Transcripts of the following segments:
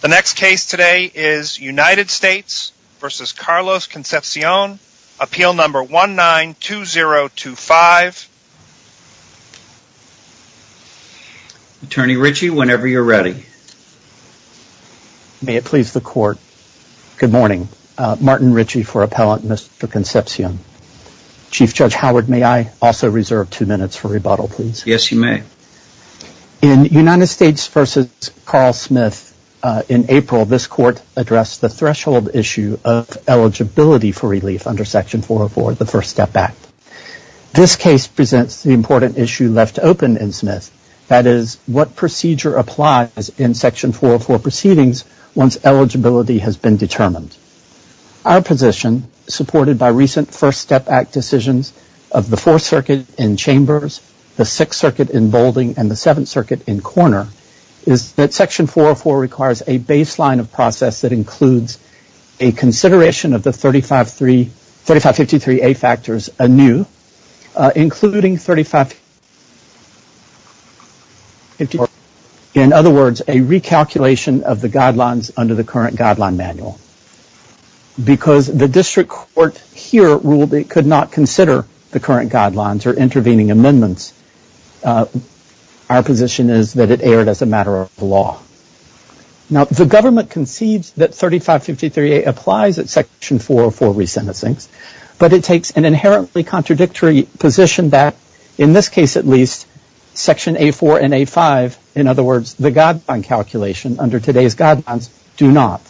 The next case today is United States v. Carlos Concepcion, appeal number 192025. Attorney Ritchie, whenever you're ready. May it please the court. Good morning. Martin Ritchie for Appellant Mr. Concepcion. Chief Judge Howard, may I also reserve two minutes for rebuttal please? Yes you may. In United States v. Carl Smith in April, this court addressed the threshold issue of eligibility for relief under Section 404, the First Step Act. This case presents the important issue left open in Smith, that is what procedure applies in Section 404 proceedings once eligibility has been determined. Our position, supported by recent First Step Act decisions of the Fourth Circuit in Chambers, the Sixth Circuit in Boulding, and the Seventh Circuit in Corner, is that Section 404 requires a baseline of process that includes a consideration of the 3553A factors anew, including in other words, a recalculation of the guidelines under the current guideline manual. Because the district court here ruled it could not consider the current guidelines or intervening amendments, our position is that it erred as a matter of law. Now, the government conceives that 3553A applies at Section 404 resentencings, but it takes an inherently contradictory position that, in this case at least, Section A4 and A5, in other words, the guideline calculation under today's guidelines, do not.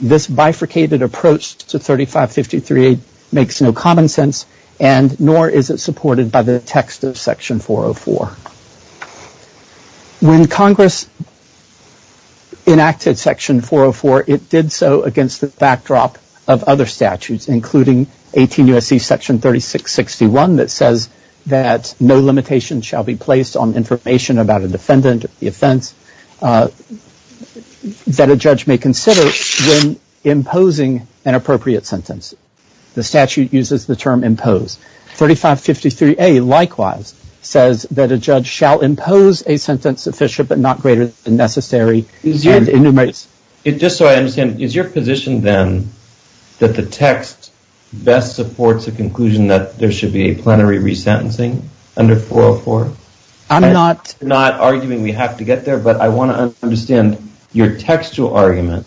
This bifurcated approach to 3553A makes no common sense, and nor is it supported by the text of Section 404. When Congress enacted Section 404, it did so against the backdrop of other statutes, including 18 U.S.C. Section 3661 that says that no limitations shall be placed on information about a defendant or the offense that a judge may consider when imposing an appropriate sentence. The statute uses the term impose. 3553A likewise says that a judge shall impose a sentence sufficient but not greater than necessary and enumerates. Just so I understand, is your position then that the text best supports the conclusion that there should be a plenary resentencing under 404? I'm not arguing we have to get there, but I want to understand your textual argument.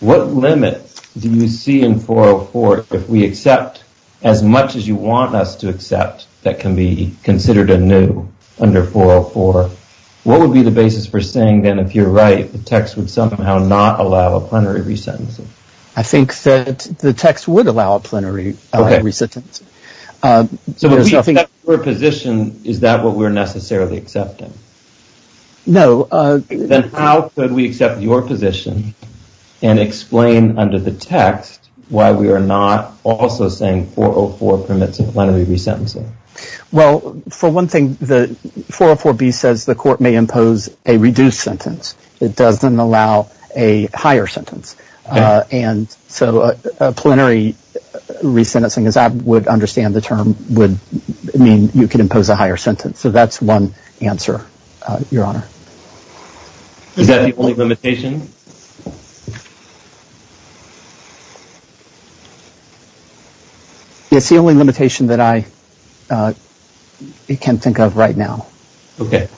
What limit do you see in 404 if we accept as much as you want us to accept that can be considered anew under 404? What would be the basis for saying then, if you're right, the text would somehow not allow a plenary resentencing? I think that the text would allow a plenary resentencing. Is that what we're necessarily accepting? No. Then how could we accept your position and explain under the text why we are not also saying 404 permits a plenary resentencing? Well, for one thing, 404B says the court may impose a reduced sentence. It doesn't allow a higher sentence. A plenary resentencing, as I would understand the term, would mean you could impose a higher sentence. That's one answer, Your Honor. Is that the only limitation? It's the only limitation that I can think of right now. Okay.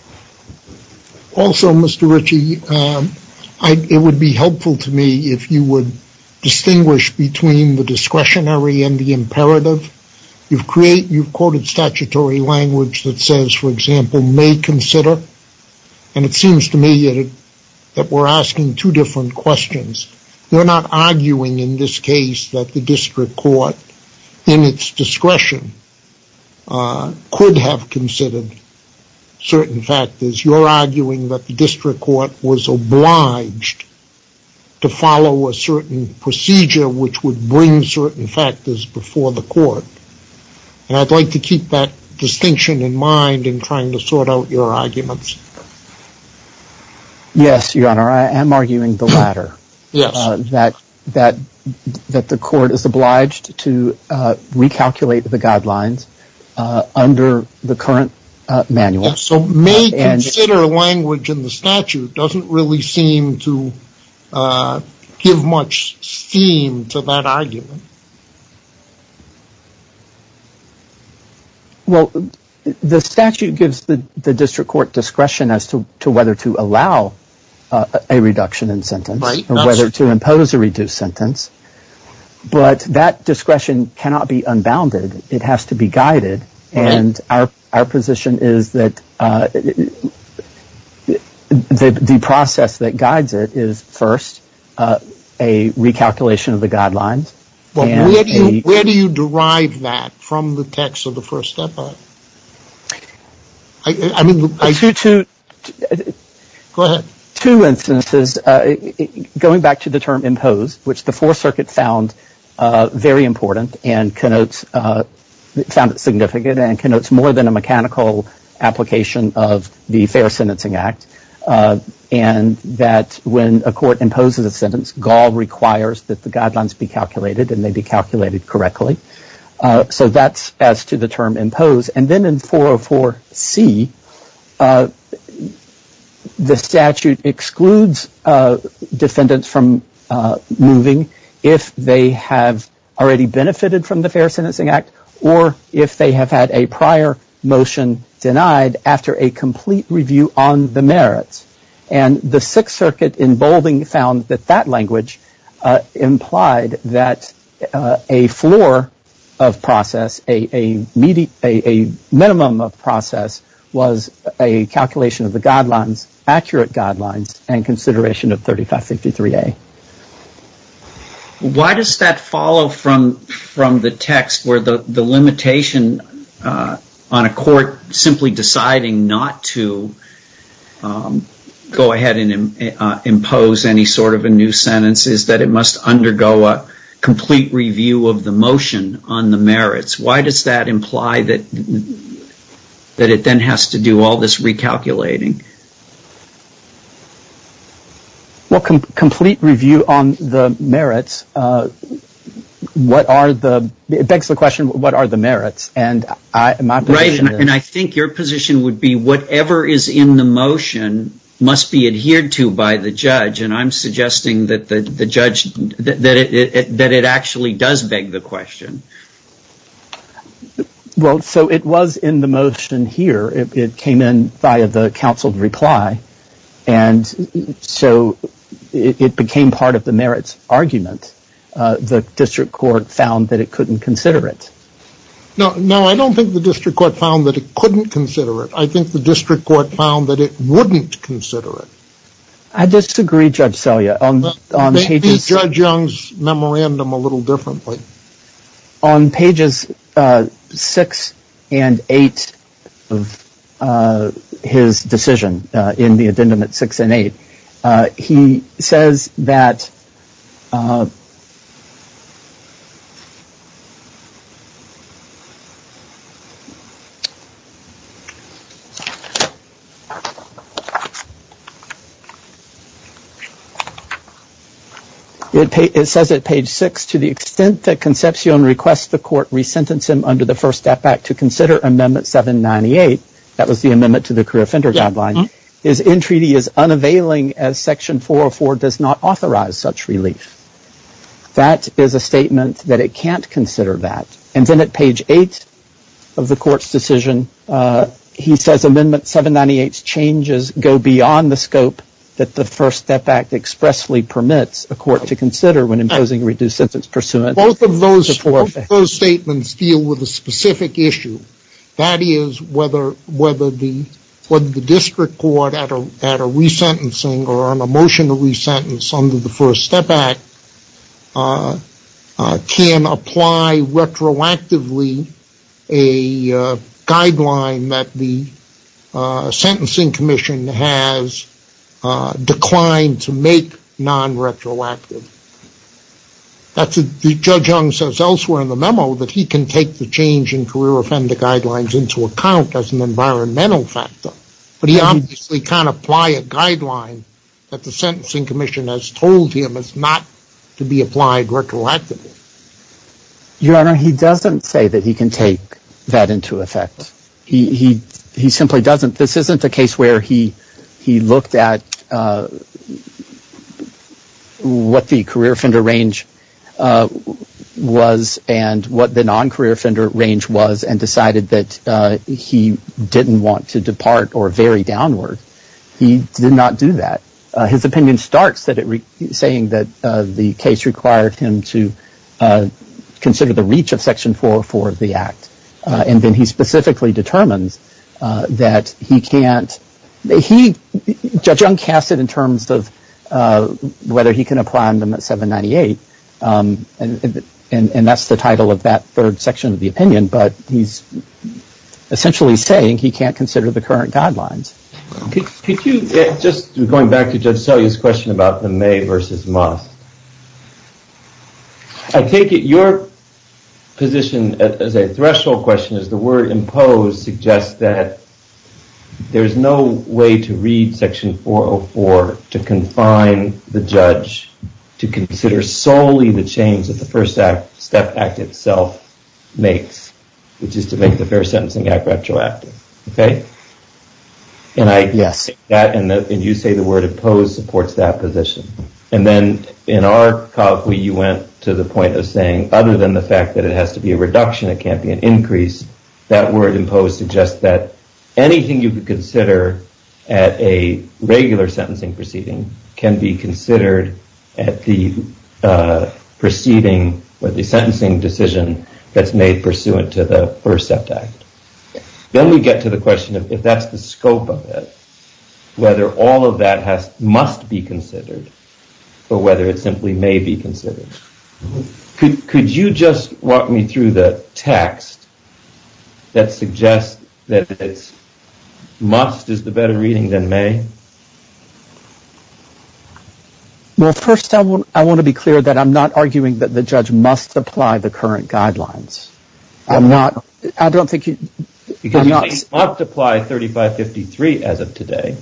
Also, Mr. Ritchie, it would be helpful to me if you would distinguish between the discretionary and the imperative. You've quoted statutory language that says, for example, may consider, and it seems to me that we're asking two different questions. We're not arguing in this case that the district court, in its discretion, could have considered certain factors. You're arguing that the district court was obliged to follow a certain procedure which would bring certain factors before the court, and I'd like to keep that distinction in mind in trying to sort out your arguments. Yes, Your Honor. I am arguing the latter, that the court is obliged to recalculate the guidelines under the current manual. So may consider language in the statute doesn't really seem to give much steam to that argument. Well, the statute gives the district court discretion as to whether to allow a reduction in sentence or whether to impose a reduced sentence, but that discretion cannot be unbounded. It has to be guided, and our position is that the process that guides it is, first, a recalculation of the guidelines. Well, where do you derive that from the text of the First Step Act? Go ahead. Two instances, going back to the term impose, which the Fourth Circuit found very important and connotes, found it significant and connotes more than a mechanical application of the Fair Sentencing Act, and that when a court imposes a sentence, GAL requires that the guidelines be calculated and they be calculated correctly. So that's as to the term impose, and then in 404c, the statute excludes defendants from moving if they have already benefited from the Fair Sentencing Act or if they have had a prior motion denied after a complete review on the merits. And the Sixth Circuit in bolding found that that language implied that a floor of process, a minimum of a calculation of the guidelines, accurate guidelines, and consideration of 3553a. Why does that follow from the text where the limitation on a court simply deciding not to go ahead and impose any sort of a new sentence is that it must undergo a complete review of the all this recalculating? Well, complete review on the merits, what are the, it begs the question, what are the merits? And I think your position would be whatever is in the motion must be adhered to by the judge, and I'm suggesting that the judge, that it actually does beg the question. Well, so it was in the motion here, it came in via the counsel's reply, and so it became part of the merits argument. The district court found that it couldn't consider it. No, no, I don't think the district court found that it couldn't consider it. I think the district court found that it wouldn't consider it. I disagree, Judge Selya. Maybe judge Young's memorandum a little differently. On pages six and eight of his decision, in the addendum at six and eight, he says that it says at page six, to the extent that Concepcion requests the court resentence him under the First Step Act to consider Amendment 798, that was the amendment to the Career Offender Guideline, his entreaty is unavailing as Section 404 does not authorize such relief. That is a statement that it can't consider that. And then at page eight of the court's decision, he says Amendment 798's changes go beyond the scope that the First Step Act expressly permits a court to consider when imposing reduced sentence pursuant to the Fourth Amendment. Both of those statements deal with a specific issue. That is whether the district court, at a resentencing or on a motion to resentence under the First Step Act, can apply retroactively a guideline that the Sentencing Commission has declined to make non-retroactive. Judge Young says elsewhere in the memo that he can take the change in Career Offender Guidelines into account as an environmental factor, but he obviously can't apply a guideline that the Sentencing Commission has told him is not to be applied retroactively. Your Honor, he doesn't say that he can take that into effect. He simply doesn't. This isn't a case where he looked at what the career offender range was and what the non-career offender range was and decided that he didn't want to depart or vary downward. He did not do that. His opinion starts at it saying that the case required him to consider the reach of Section 404 of the Act, and then he specifically determines that he can't. Judge Young casts it in terms of whether he can apply Amendment 798, and that's the title of that third section of the opinion, but he's essentially saying he can't consider the current guidelines. Could you, just going back to Judge Selye's question about the may versus must, I take it your position as a threshold question is the word imposed suggests that there is no way to read Section 404 to confine the judge to consider solely the change that the which is to make the Fair Sentencing Act retroactive, okay? And I, yes, and you say the word imposed supports that position, and then in our copy you went to the point of saying other than the fact that it has to be a reduction, it can't be an increase, that word imposed suggests that anything you could consider at a regular sentencing proceeding can be considered at the proceeding or the sentencing decision that's made pursuant to the First Act. Then we get to the question of if that's the scope of it, whether all of that must be considered or whether it simply may be considered. Could you just walk me through the text that suggests that it's must is the better reading than may? Well, first I want to be clear that I'm not arguing that the judge must apply the current guidelines. I'm not, I don't think you... Because he must apply 3553 as of today.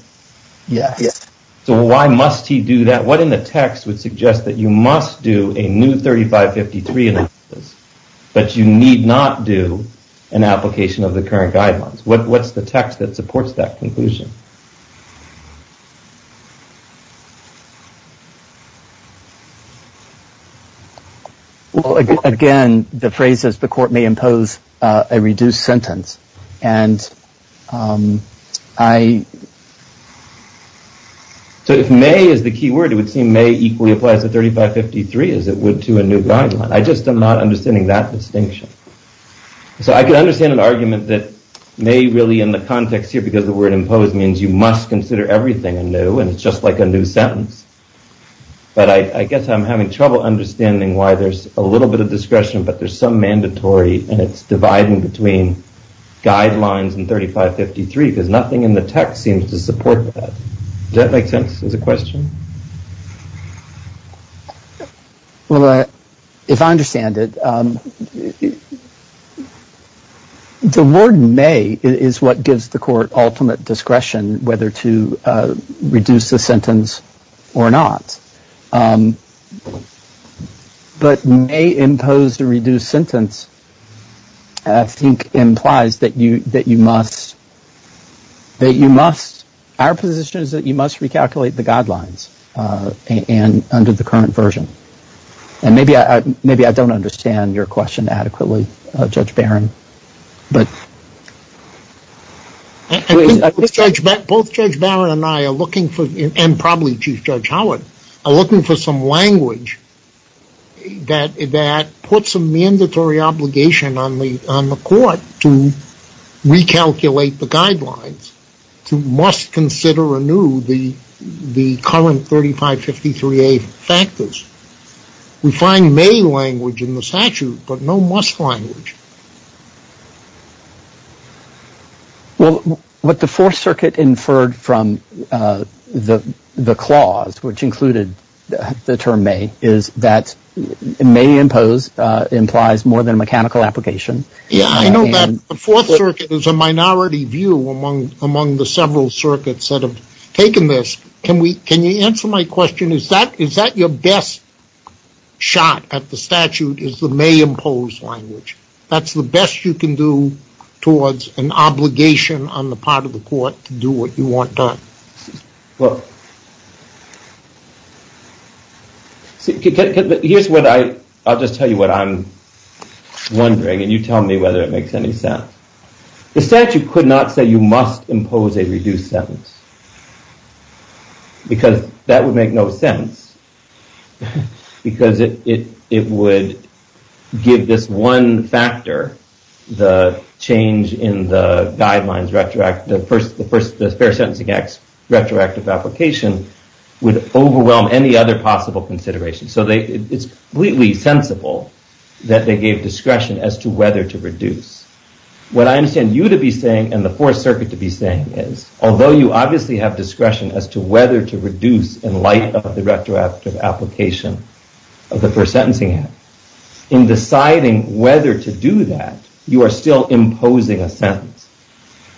Yes. So why must he do that? What in the text would suggest that you must do a new 3553 analysis but you need not do an application of the current guidelines? What's the text that supports that Well, again, the phrase is the court may impose a reduced sentence and I... So if may is the key word, it would seem may equally applies to 3553 as it would to a new guideline. I just am not understanding that distinction. So I could understand an argument that may really in the context here because the word imposed means you must consider everything new and it's just like a new sentence. But I guess I'm having trouble understanding why there's a little bit of discretion but there's some mandatory and it's dividing between guidelines and 3553 because nothing in the text seems to support that. Does that make sense as a question? Well, if I understand it, the word may is what gives the court ultimate discretion whether to reduce the sentence or not. But may impose a reduced sentence, I think, implies that you must, that you must, our position is that you must recalculate the guidelines and under the current version. And maybe I don't understand your question adequately, Judge Barron. Both Judge Barron and I are looking for, and probably Chief Judge Howard, are looking for some language that puts a mandatory obligation on the court to recalculate the guidelines, to must consider anew the current 3553A factors. We find may language in the statute but no must language. Well, what the Fourth Circuit inferred from the clause which included the term may is that may impose implies more than mechanical application. Yeah, I know that the Fourth Circuit is a minority view among the several circuits that have taken this. Can you answer my question? Is that your best shot at the statute is the may impose language? That's the best you can do towards an obligation on the part of the court to do what whether it makes any sense. The statute could not say you must impose a reduced sentence because that would make no sense because it would give this one factor, the change in the guidelines retroactive, the first, the first, the Fair Sentencing Act's retroactive application would overwhelm any other possible consideration. So they, it's completely sensible that they gave discretion as to whether to reduce. What I understand you to be saying and the Fourth Circuit to be saying is, although you obviously have discretion as to whether to reduce in light of the retroactive application of the First Sentencing Act, in deciding whether to do that, you are still imposing a sentence.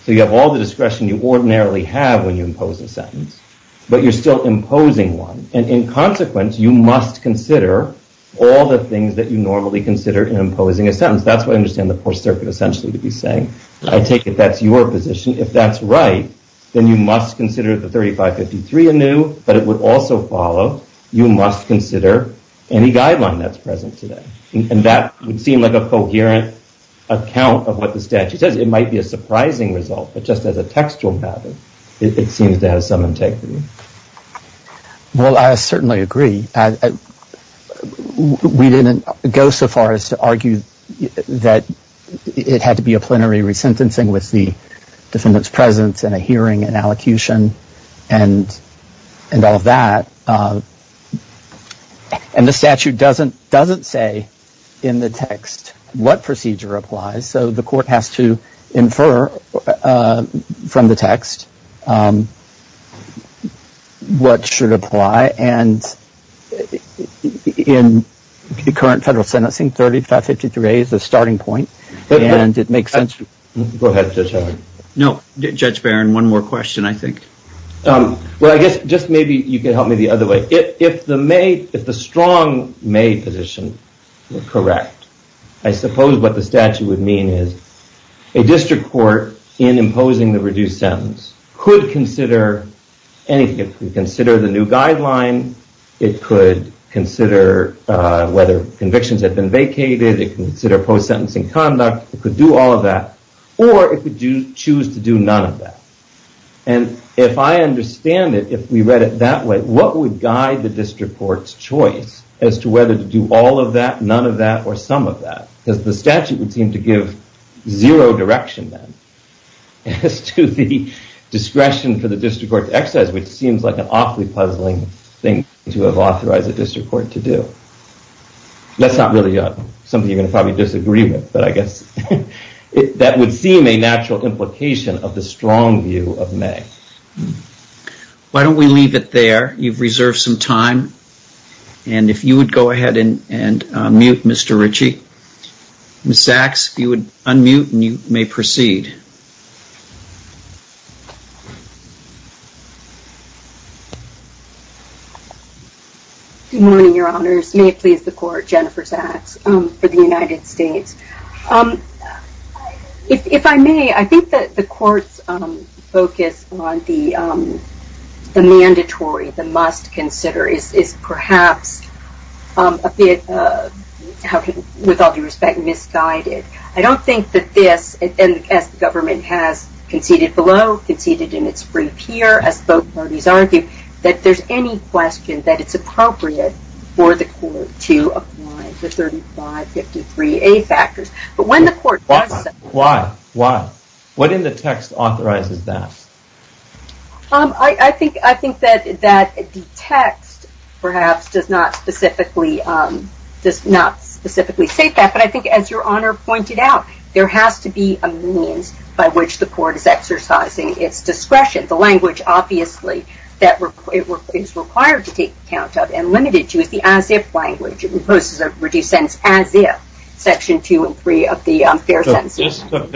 So you have all the discretion you ordinarily have when you impose a sentence, but you're still imposing one. And in consequence, you must consider all the things that you normally consider in imposing a sentence. That's what I understand the Fourth Circuit essentially to be saying. I take it that's your position. If that's right, then you must consider the 3553 anew, but it would also follow you must consider any guideline that's present today. And that would seem like a coherent account of what the statute says. It might be a surprising result, but just as a textual pattern, it seems to have some integrity. Well, I certainly agree. We didn't go so far as to argue that it had to be a plenary resentencing with the defendant's presence and a hearing and allocution and all of that. And the statute doesn't say in the text what procedure applies. So the court has to infer from the text. What should apply and in the current federal sentencing, 3553A is the starting point. And it makes sense. Go ahead, Judge Howard. No, Judge Barron, one more question, I think. Well, I guess just maybe you can help me the other way. If the strong may position were correct, I suppose what the statute would mean is a district court in imposing the reduced sentence could consider anything. It could consider the new guideline. It could consider whether convictions had been vacated. It could consider post-sentencing conduct. It could do all of that. Or it could choose to do none of that. And if I understand it, if we read it that way, what would guide the district court's choice as to whether to do all of that, none of that, or some of that? Because the statute would seem to give zero direction then as to the discretion for the district court to exercise, which seems like an awfully puzzling thing to have authorized a district court to do. That's not really something you're going to probably disagree with, but I guess that would seem a natural implication of the strong view of may. Why don't we leave it there? You've reserved some time. And if you would go ahead and mute Mr. Ritchie. Ms. Sachs, if you would unmute and you may proceed. Good morning, your honors. May it please the court, Jennifer Sachs for the United States. If I may, I think that the court's focus on the mandatory, the must consider, is perhaps a bit, with all due respect, misguided. I don't think that this, as the government has conceded below, conceded in its brief here, as both parties argue, that there's any question that it's But when the court does say- Why? Why? Why? What in the text authorizes that? I think that the text perhaps does not specifically state that, but I think as your honor pointed out, there has to be a means by which the court is exercising its discretion. The language, obviously, that it is required to take account of and limited to is the as if language. It is not dictated by the as if language. I'm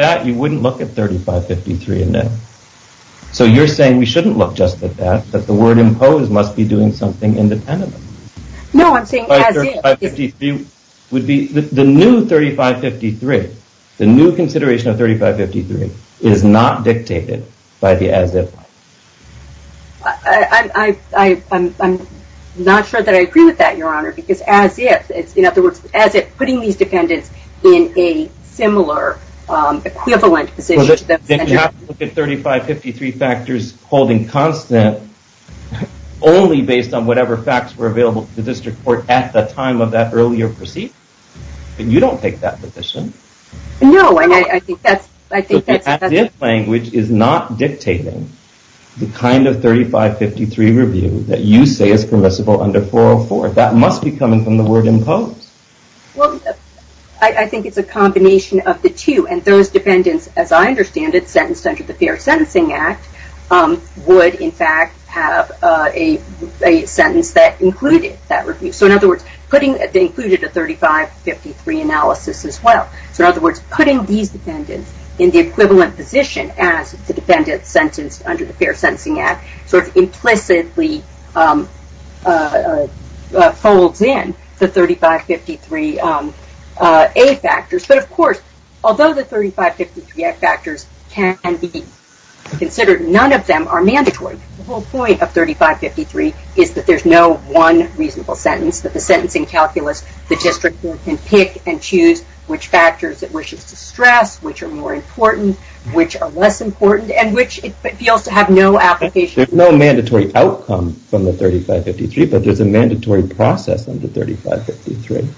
not sure that I agree with that, your honor, because in other words, as if, putting these defendants in a similar equivalent position. Well, then you have to look at 3553 factors holding constant only based on whatever facts were available to the district court at the time of that earlier proceeding. You don't take that position. No, I think that's- The as if language is not dictating the kind of 3553 review that you say is permissible under 404. That must be coming from the word imposed. Well, I think it's a combination of the two, and those defendants, as I understand it, sentenced under the Fair Sentencing Act, would in fact have a sentence that included that review. So in other words, they included a 3553 analysis as well. So in other words, putting these defendants in the equivalent position as the defendants sentenced under the Fair Sentencing Act sort of implicitly folds in the 3553 A factors. But of course, although the 3553 A factors can be considered, none of them are mandatory. The whole point of 3553 is that there's no one reasonable sentence, that the sentencing calculus, the district court can pick and choose which factors it wishes to stress, which are more important, which are less important, and which it feels to have no application. There's no mandatory outcome from the 3553, but there's a mandatory process under 3553.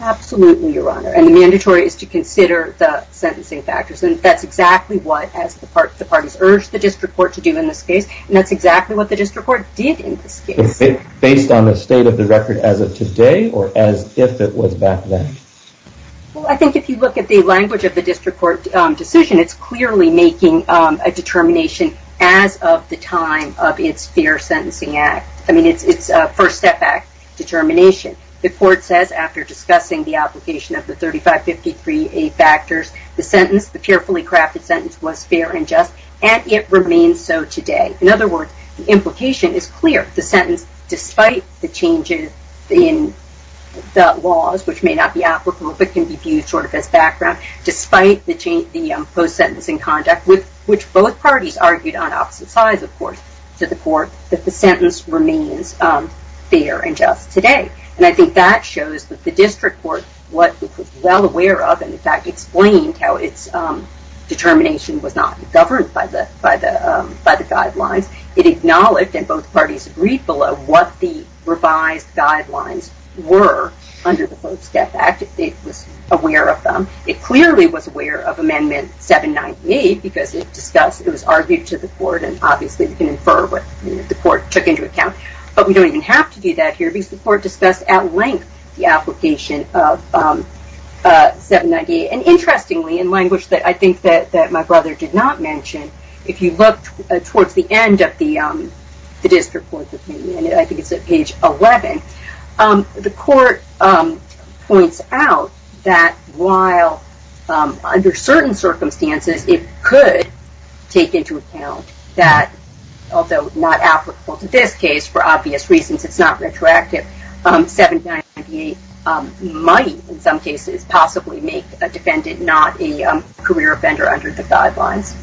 Absolutely, Your Honor. And the mandatory is to consider the sentencing factors. And that's exactly what, as the parties urged the district court to do in this case. And that's exactly what the district court did in this case. Based on the state of the record as of today, or as if it was back then? Well, I think if you look at the language of the district court decision, it's clearly making a determination as of the time of its Fair Sentencing Act. I mean, it's a first step back determination. The court says after discussing the application of the 3553 A factors, the sentence, the fearfully crafted sentence was fair and just, and it remains so today. In other words, the implication is clear. The sentence, despite the changes in the laws, which may not be applicable, but can be viewed sort of as background, despite the post-sentencing conduct with which both parties argued on opposite sides, of course, to the court, that the sentence remains fair and just today. And I think that shows that the district court, what it was well aware of, and in fact explained how its determination was not governed by the guidelines. It acknowledged and both parties agreed below what the revised guidelines were under the Post-Death Act. It was aware of them. It clearly was aware of Amendment 798 because it discussed, it was argued to the court, and obviously you can infer what the court took into account. But we don't even have to do that here because the court discussed at length the application of 798. And interestingly, in language that I think that my brother did not mention, if you look towards the end of the district court opinion, I think it's at page 11, the court points out that while under certain circumstances it could take into account that, although not applicable to this case, for obvious reasons it's not retroactive, 7998 might, in some cases, possibly make a defendant not a career offender under the guidelines.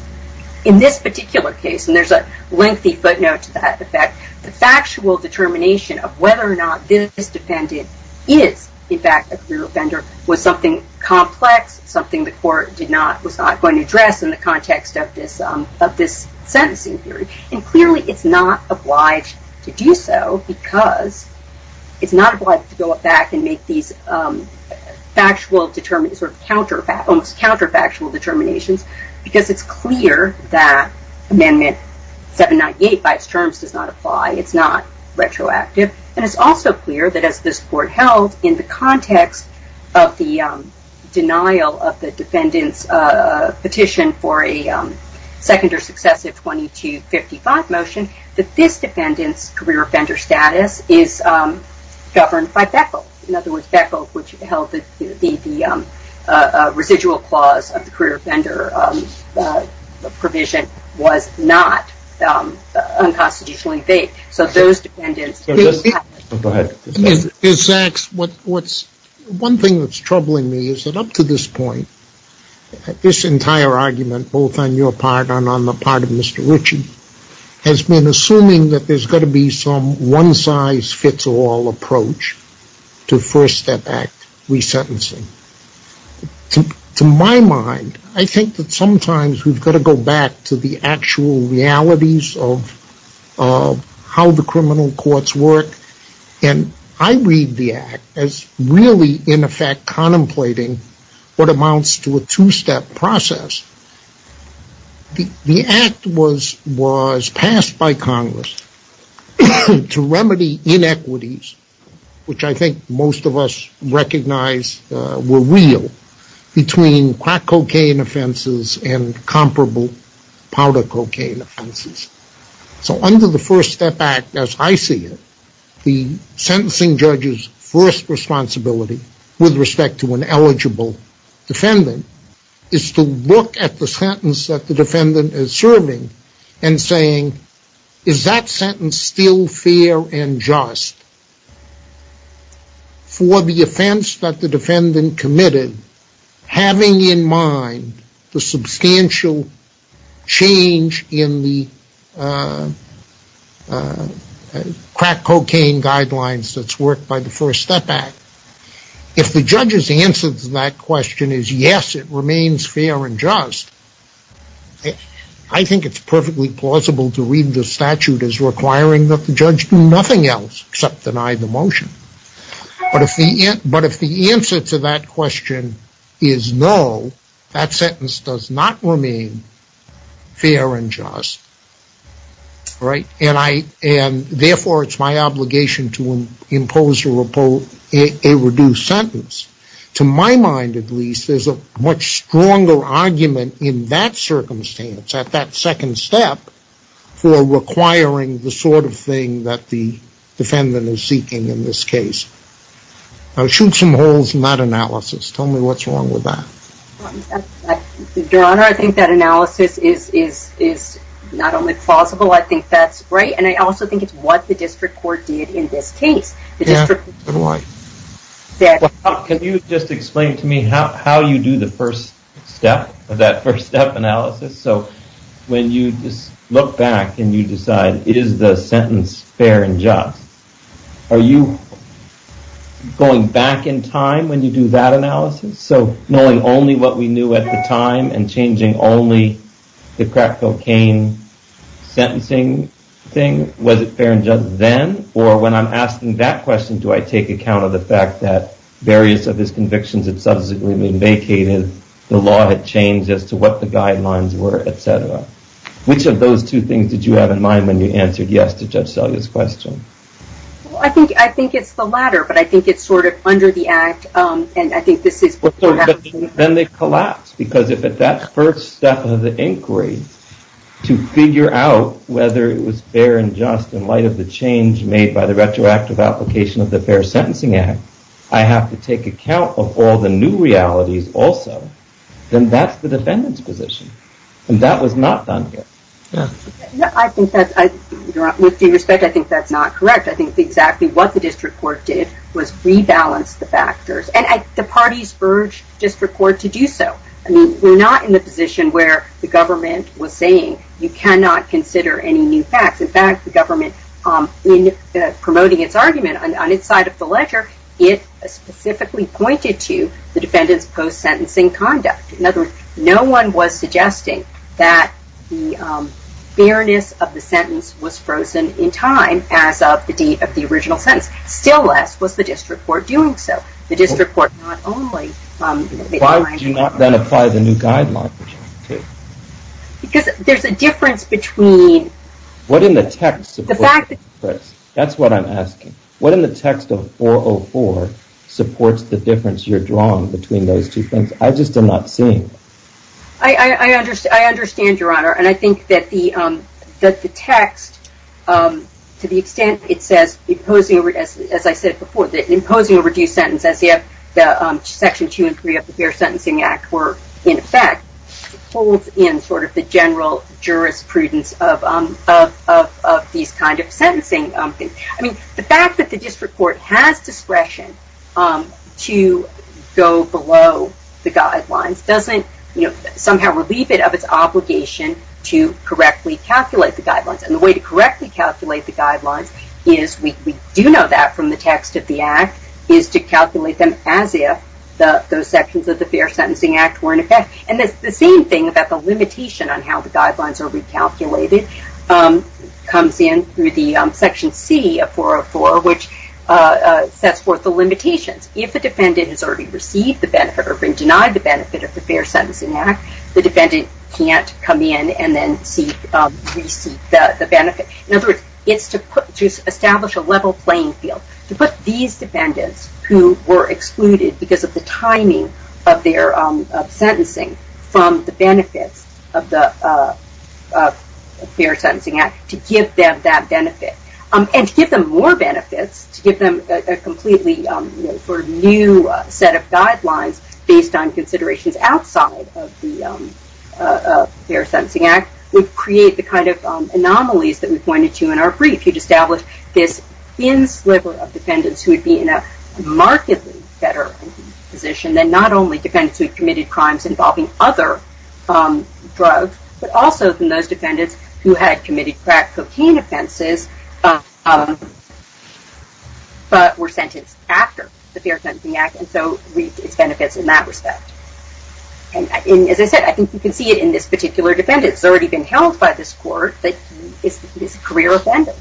In this particular case, and there's a lengthy footnote to that effect, the factual determination of whether or not this defendant is, in fact, a career offender was something complex, something the court was not going to address in the context of this sentencing period. And clearly it's not obliged to do so because it's not obliged to go back and make these factual, almost counterfactual determinations because it's clear that Amendment 798 by its terms does not apply. It's not retroactive. And it's also clear that as this court held in the context of the denial of the defendant's petition for a second or successive 2255 motion, that this defendant's career offender status is governed by BECL. In other words, BECL, which held that the residual clause of the career offender provision was not unconstitutionally vaped. So those defendants... Go ahead. One thing that's troubling me is that up to this point, this entire argument, both on your part and on the part of Mr. Ritchie, has been assuming that there's got to be some one-size-fits-all approach to First Step Act resentencing. To my mind, I think that sometimes we've got to go back to the actual realities of how the criminal courts work. And I read the Act as really, in effect, contemplating what amounts to a two-step process. The Act was passed by Congress to remedy inequities, which I think most of us recognize were real, between crack cocaine offenses and comparable powder cocaine offenses. So under the First Step Act, as I see it, the sentencing judge's first responsibility with respect to an eligible defendant is to look at the sentence that the defendant is serving and saying, is that sentence still fair and just? For the offense that the defendant committed, having in mind the substantial change in the crack cocaine guidelines that's worked by the First Step Act, if the judge's answer to that question is yes, it remains fair and just, I think it's perfectly plausible to read the statute as requiring that the judge do nothing else except deny the motion. But if the answer to that question is no, that sentence does not remain fair and just. Therefore, it's my obligation to impose a reduced sentence. To my mind, at least, there's a much stronger argument in that circumstance, at that second step, for requiring the sort of thing that the defendant is seeking in this case. Now, shoot some holes in that analysis. Tell me what's wrong with that. Your Honor, I think that analysis is not only plausible, I think that's right, and I also think it's what the district court did in this case. Can you just explain to me how you do the first step of that first step analysis? So when you just look back and you decide, is the sentence fair and just, are you going back in what we knew at the time and changing only the crack cocaine sentencing thing? Was it fair and just then? Or when I'm asking that question, do I take account of the fact that various of these convictions had subsequently been vacated, the law had changed as to what the guidelines were, et cetera? Which of those two things did you have in mind when you answered yes to Judge Selye's question? Well, I think it's the latter, but I think it's sort of under the act, and I collapse because if at that first step of the inquiry to figure out whether it was fair and just in light of the change made by the retroactive application of the Fair Sentencing Act, I have to take account of all the new realities also, then that's the defendant's position, and that was not done here. I think that's, with due respect, I think that's not correct. I think exactly what the District Court did was rebalance the factors, and the parties urged District Court to do so. I mean, we're not in the position where the government was saying you cannot consider any new facts. In fact, the government, in promoting its argument on its side of the ledger, it specifically pointed to the defendant's post-sentencing conduct. In other words, no one was suggesting that the fairness of the sentence was frozen in time as of the date of the original sentence. Still less was the District Court doing so. The District Court not only... Why did you not then apply the new guidelines? Because there's a difference between... What in the text supports the difference? That's what I'm asking. What in the text of 404 supports the difference you're drawing between those two things? I just am not seeing it. I understand, Your Honor, and I think that the text, to the extent it says as I said before, that imposing a reduced sentence as if Section 2 and 3 of the Fair Sentencing Act were in effect, holds in sort of the general jurisprudence of these kind of sentencing. I mean, the fact that the District Court has discretion to go below the guidelines doesn't somehow relieve it of its obligation to correctly calculate the guidelines. And the way to correctly calculate the guidelines is, we do know that from the text of the Act, is to calculate them as if those sections of the Fair Sentencing Act were in effect. And the same thing about the limitation on how the guidelines are recalculated comes in through the Section C of 404, which sets forth the limitations. If a defendant has already received the benefit or been denied the benefit of the Fair Sentencing Act, the defendant can't come in and then re-seek the benefit. In other words, it's to establish a level playing field to put these defendants who were excluded because of the timing of their sentencing from the benefits of the Fair Sentencing Act, to give them that benefit. And to give them more benefits, to give them a completely new set of guidelines based on considerations outside of the Fair Sentencing Act, would create the kind of anomalies that we pointed to in our brief. You'd establish this thin sliver of defendants who would be in a markedly better position than not only defendants who had committed crimes involving other drugs, but also from those defendants who had committed crack cocaine offenses, but were sentenced after the Fair Sentencing Act. It's already been held by this court that he's a career defendant.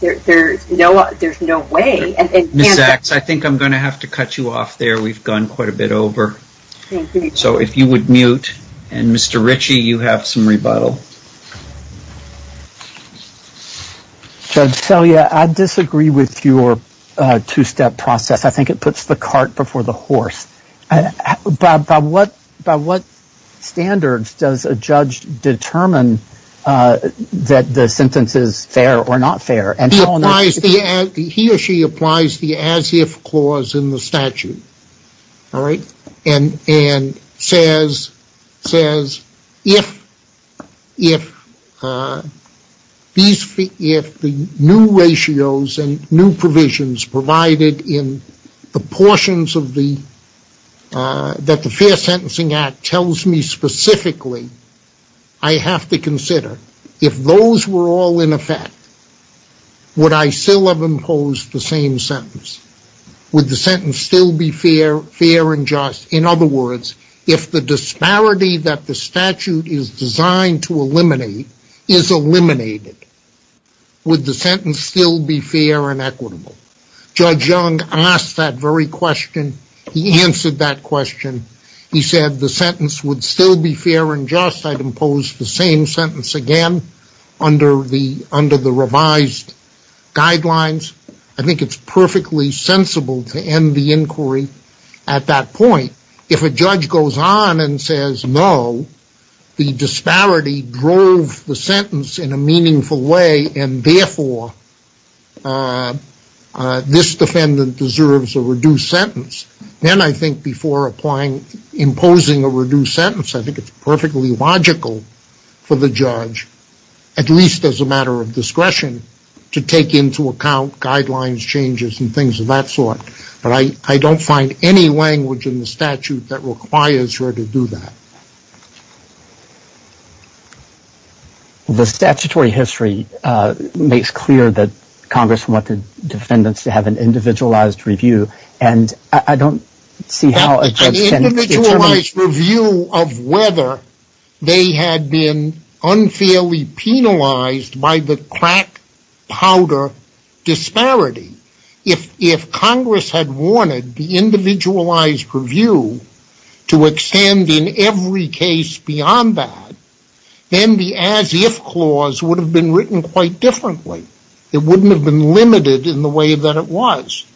There's no way. Ms. Sachs, I think I'm going to have to cut you off there. We've gone quite a bit over. So if you would mute. And Mr. Ritchie, you have some rebuttal. Judge Selye, I disagree with your two-step process. I think it puts the cart before the horse. By what standards does a judge determine that the sentence is fair or not fair? He or she applies the as-if clause in the statute, all right? And says, if the new ratios and new provisions provided in the portions that the Fair Sentencing Act tells me specifically, I have to consider, if those were all in effect, would I still have imposed the same sentence? Would the sentence still be fair and just? In other words, if the disparity that the statute is designed to eliminate is eliminated, would the sentence still be fair and equitable? Judge Young asked that very question. He answered that question. He said the sentence would still be fair and just. I'd impose the same sentence again under the revised guidelines. I think it's the disparity drove the sentence in a meaningful way and therefore this defendant deserves a reduced sentence. Then I think before imposing a reduced sentence, I think it's perfectly logical for the judge, at least as a matter of discretion, to take into account guidelines, changes, and things of that sort. But I don't find any language in the statute that requires her to do that. The statutory history makes clear that Congress wanted defendants to have an individualized review. An individualized review of whether they had been unfairly penalized by the crack powder disparity. If Congress had wanted the individualized review to extend in every case beyond that, then the as-if clause would have been written quite differently. It wouldn't have been limited in the way that it was.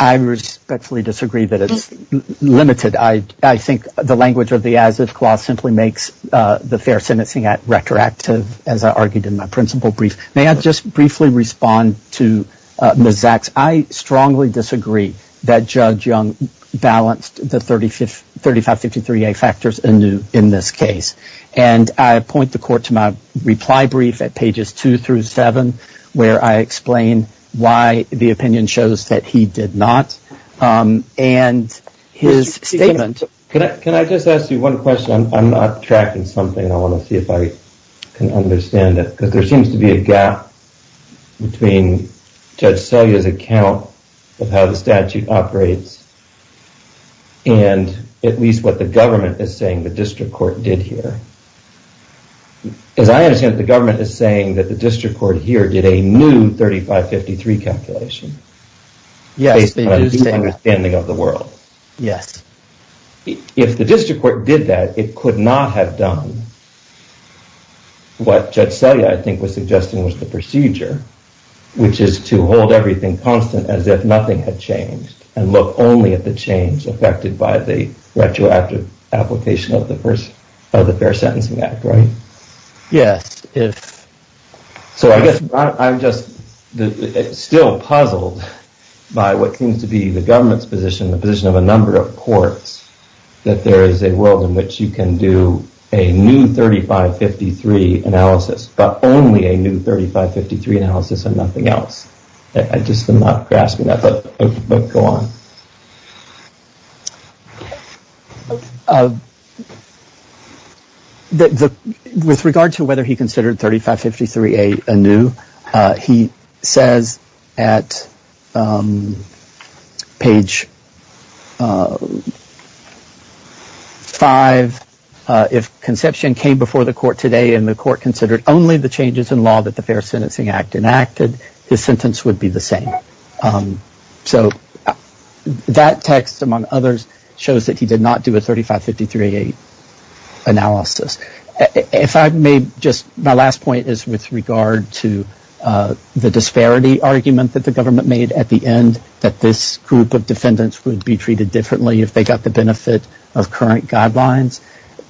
I respectfully disagree that it's limited. I think the language of the as-if clause simply makes the fair sentencing act retroactive, as I argued in my principal brief. May I just briefly respond to Ms. Zaks? I strongly disagree that Judge Young balanced the 3553A factors in this case. And I point the court to my reply brief at pages 2 through 7, where I explain why the opinion shows that he did not. And his statement... Can I just ask you one question? I'm not tracking something. I want to see if I can understand it. Because there seems to be a gap between Judge Selye's account of how the statute operates and at least what the government is saying the district court did here. As I understand it, the government is saying that the district court here did a new 3553 calculation. Yes, they do say that. Based on a deep understanding of the world. Yes. If the district court did that, it could not have done what Judge Selye, I think, was suggesting was the procedure, which is to hold everything constant as if nothing had changed and look only at the change affected by the retroactive application of the first of the Fair Sentencing Act, right? Yes. So I guess I'm just still puzzled by what seems to be the government's position, the position of a number of courts, that there is a world in which you can do a new 3553 analysis, but only a new 3553 analysis and nothing else. I just am not grasping that, but go on. With regard to whether he considered 3553 anew, he says at page five, if conception came before the court today and the court considered only the changes in law that the Fair Sentencing Act enacted, his sentence would be the same. So that text, among others, shows that he did not do a 3553 analysis. If I may, just my last point is with regard to the disparity argument that the government made at the end, that this group of defendants would be treated differently if they got the benefit of current guidelines.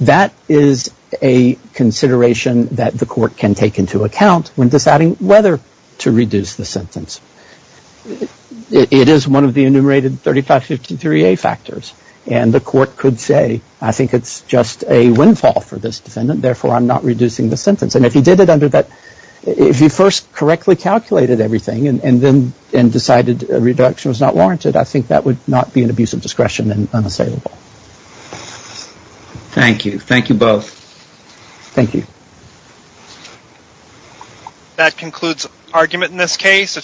That is a consideration that the court can take into account when deciding whether to reduce the sentence. It is one of the enumerated 3553A factors, and the court could say, I think it's just a windfall for this defendant, therefore I'm not reducing the sentence. And if he did it under that, if he first correctly calculated everything and then decided a reduction was not warranted, I think that would not be an abuse of discretion and unassailable. Thank you. Thank you both. Thank you. That concludes argument in this case.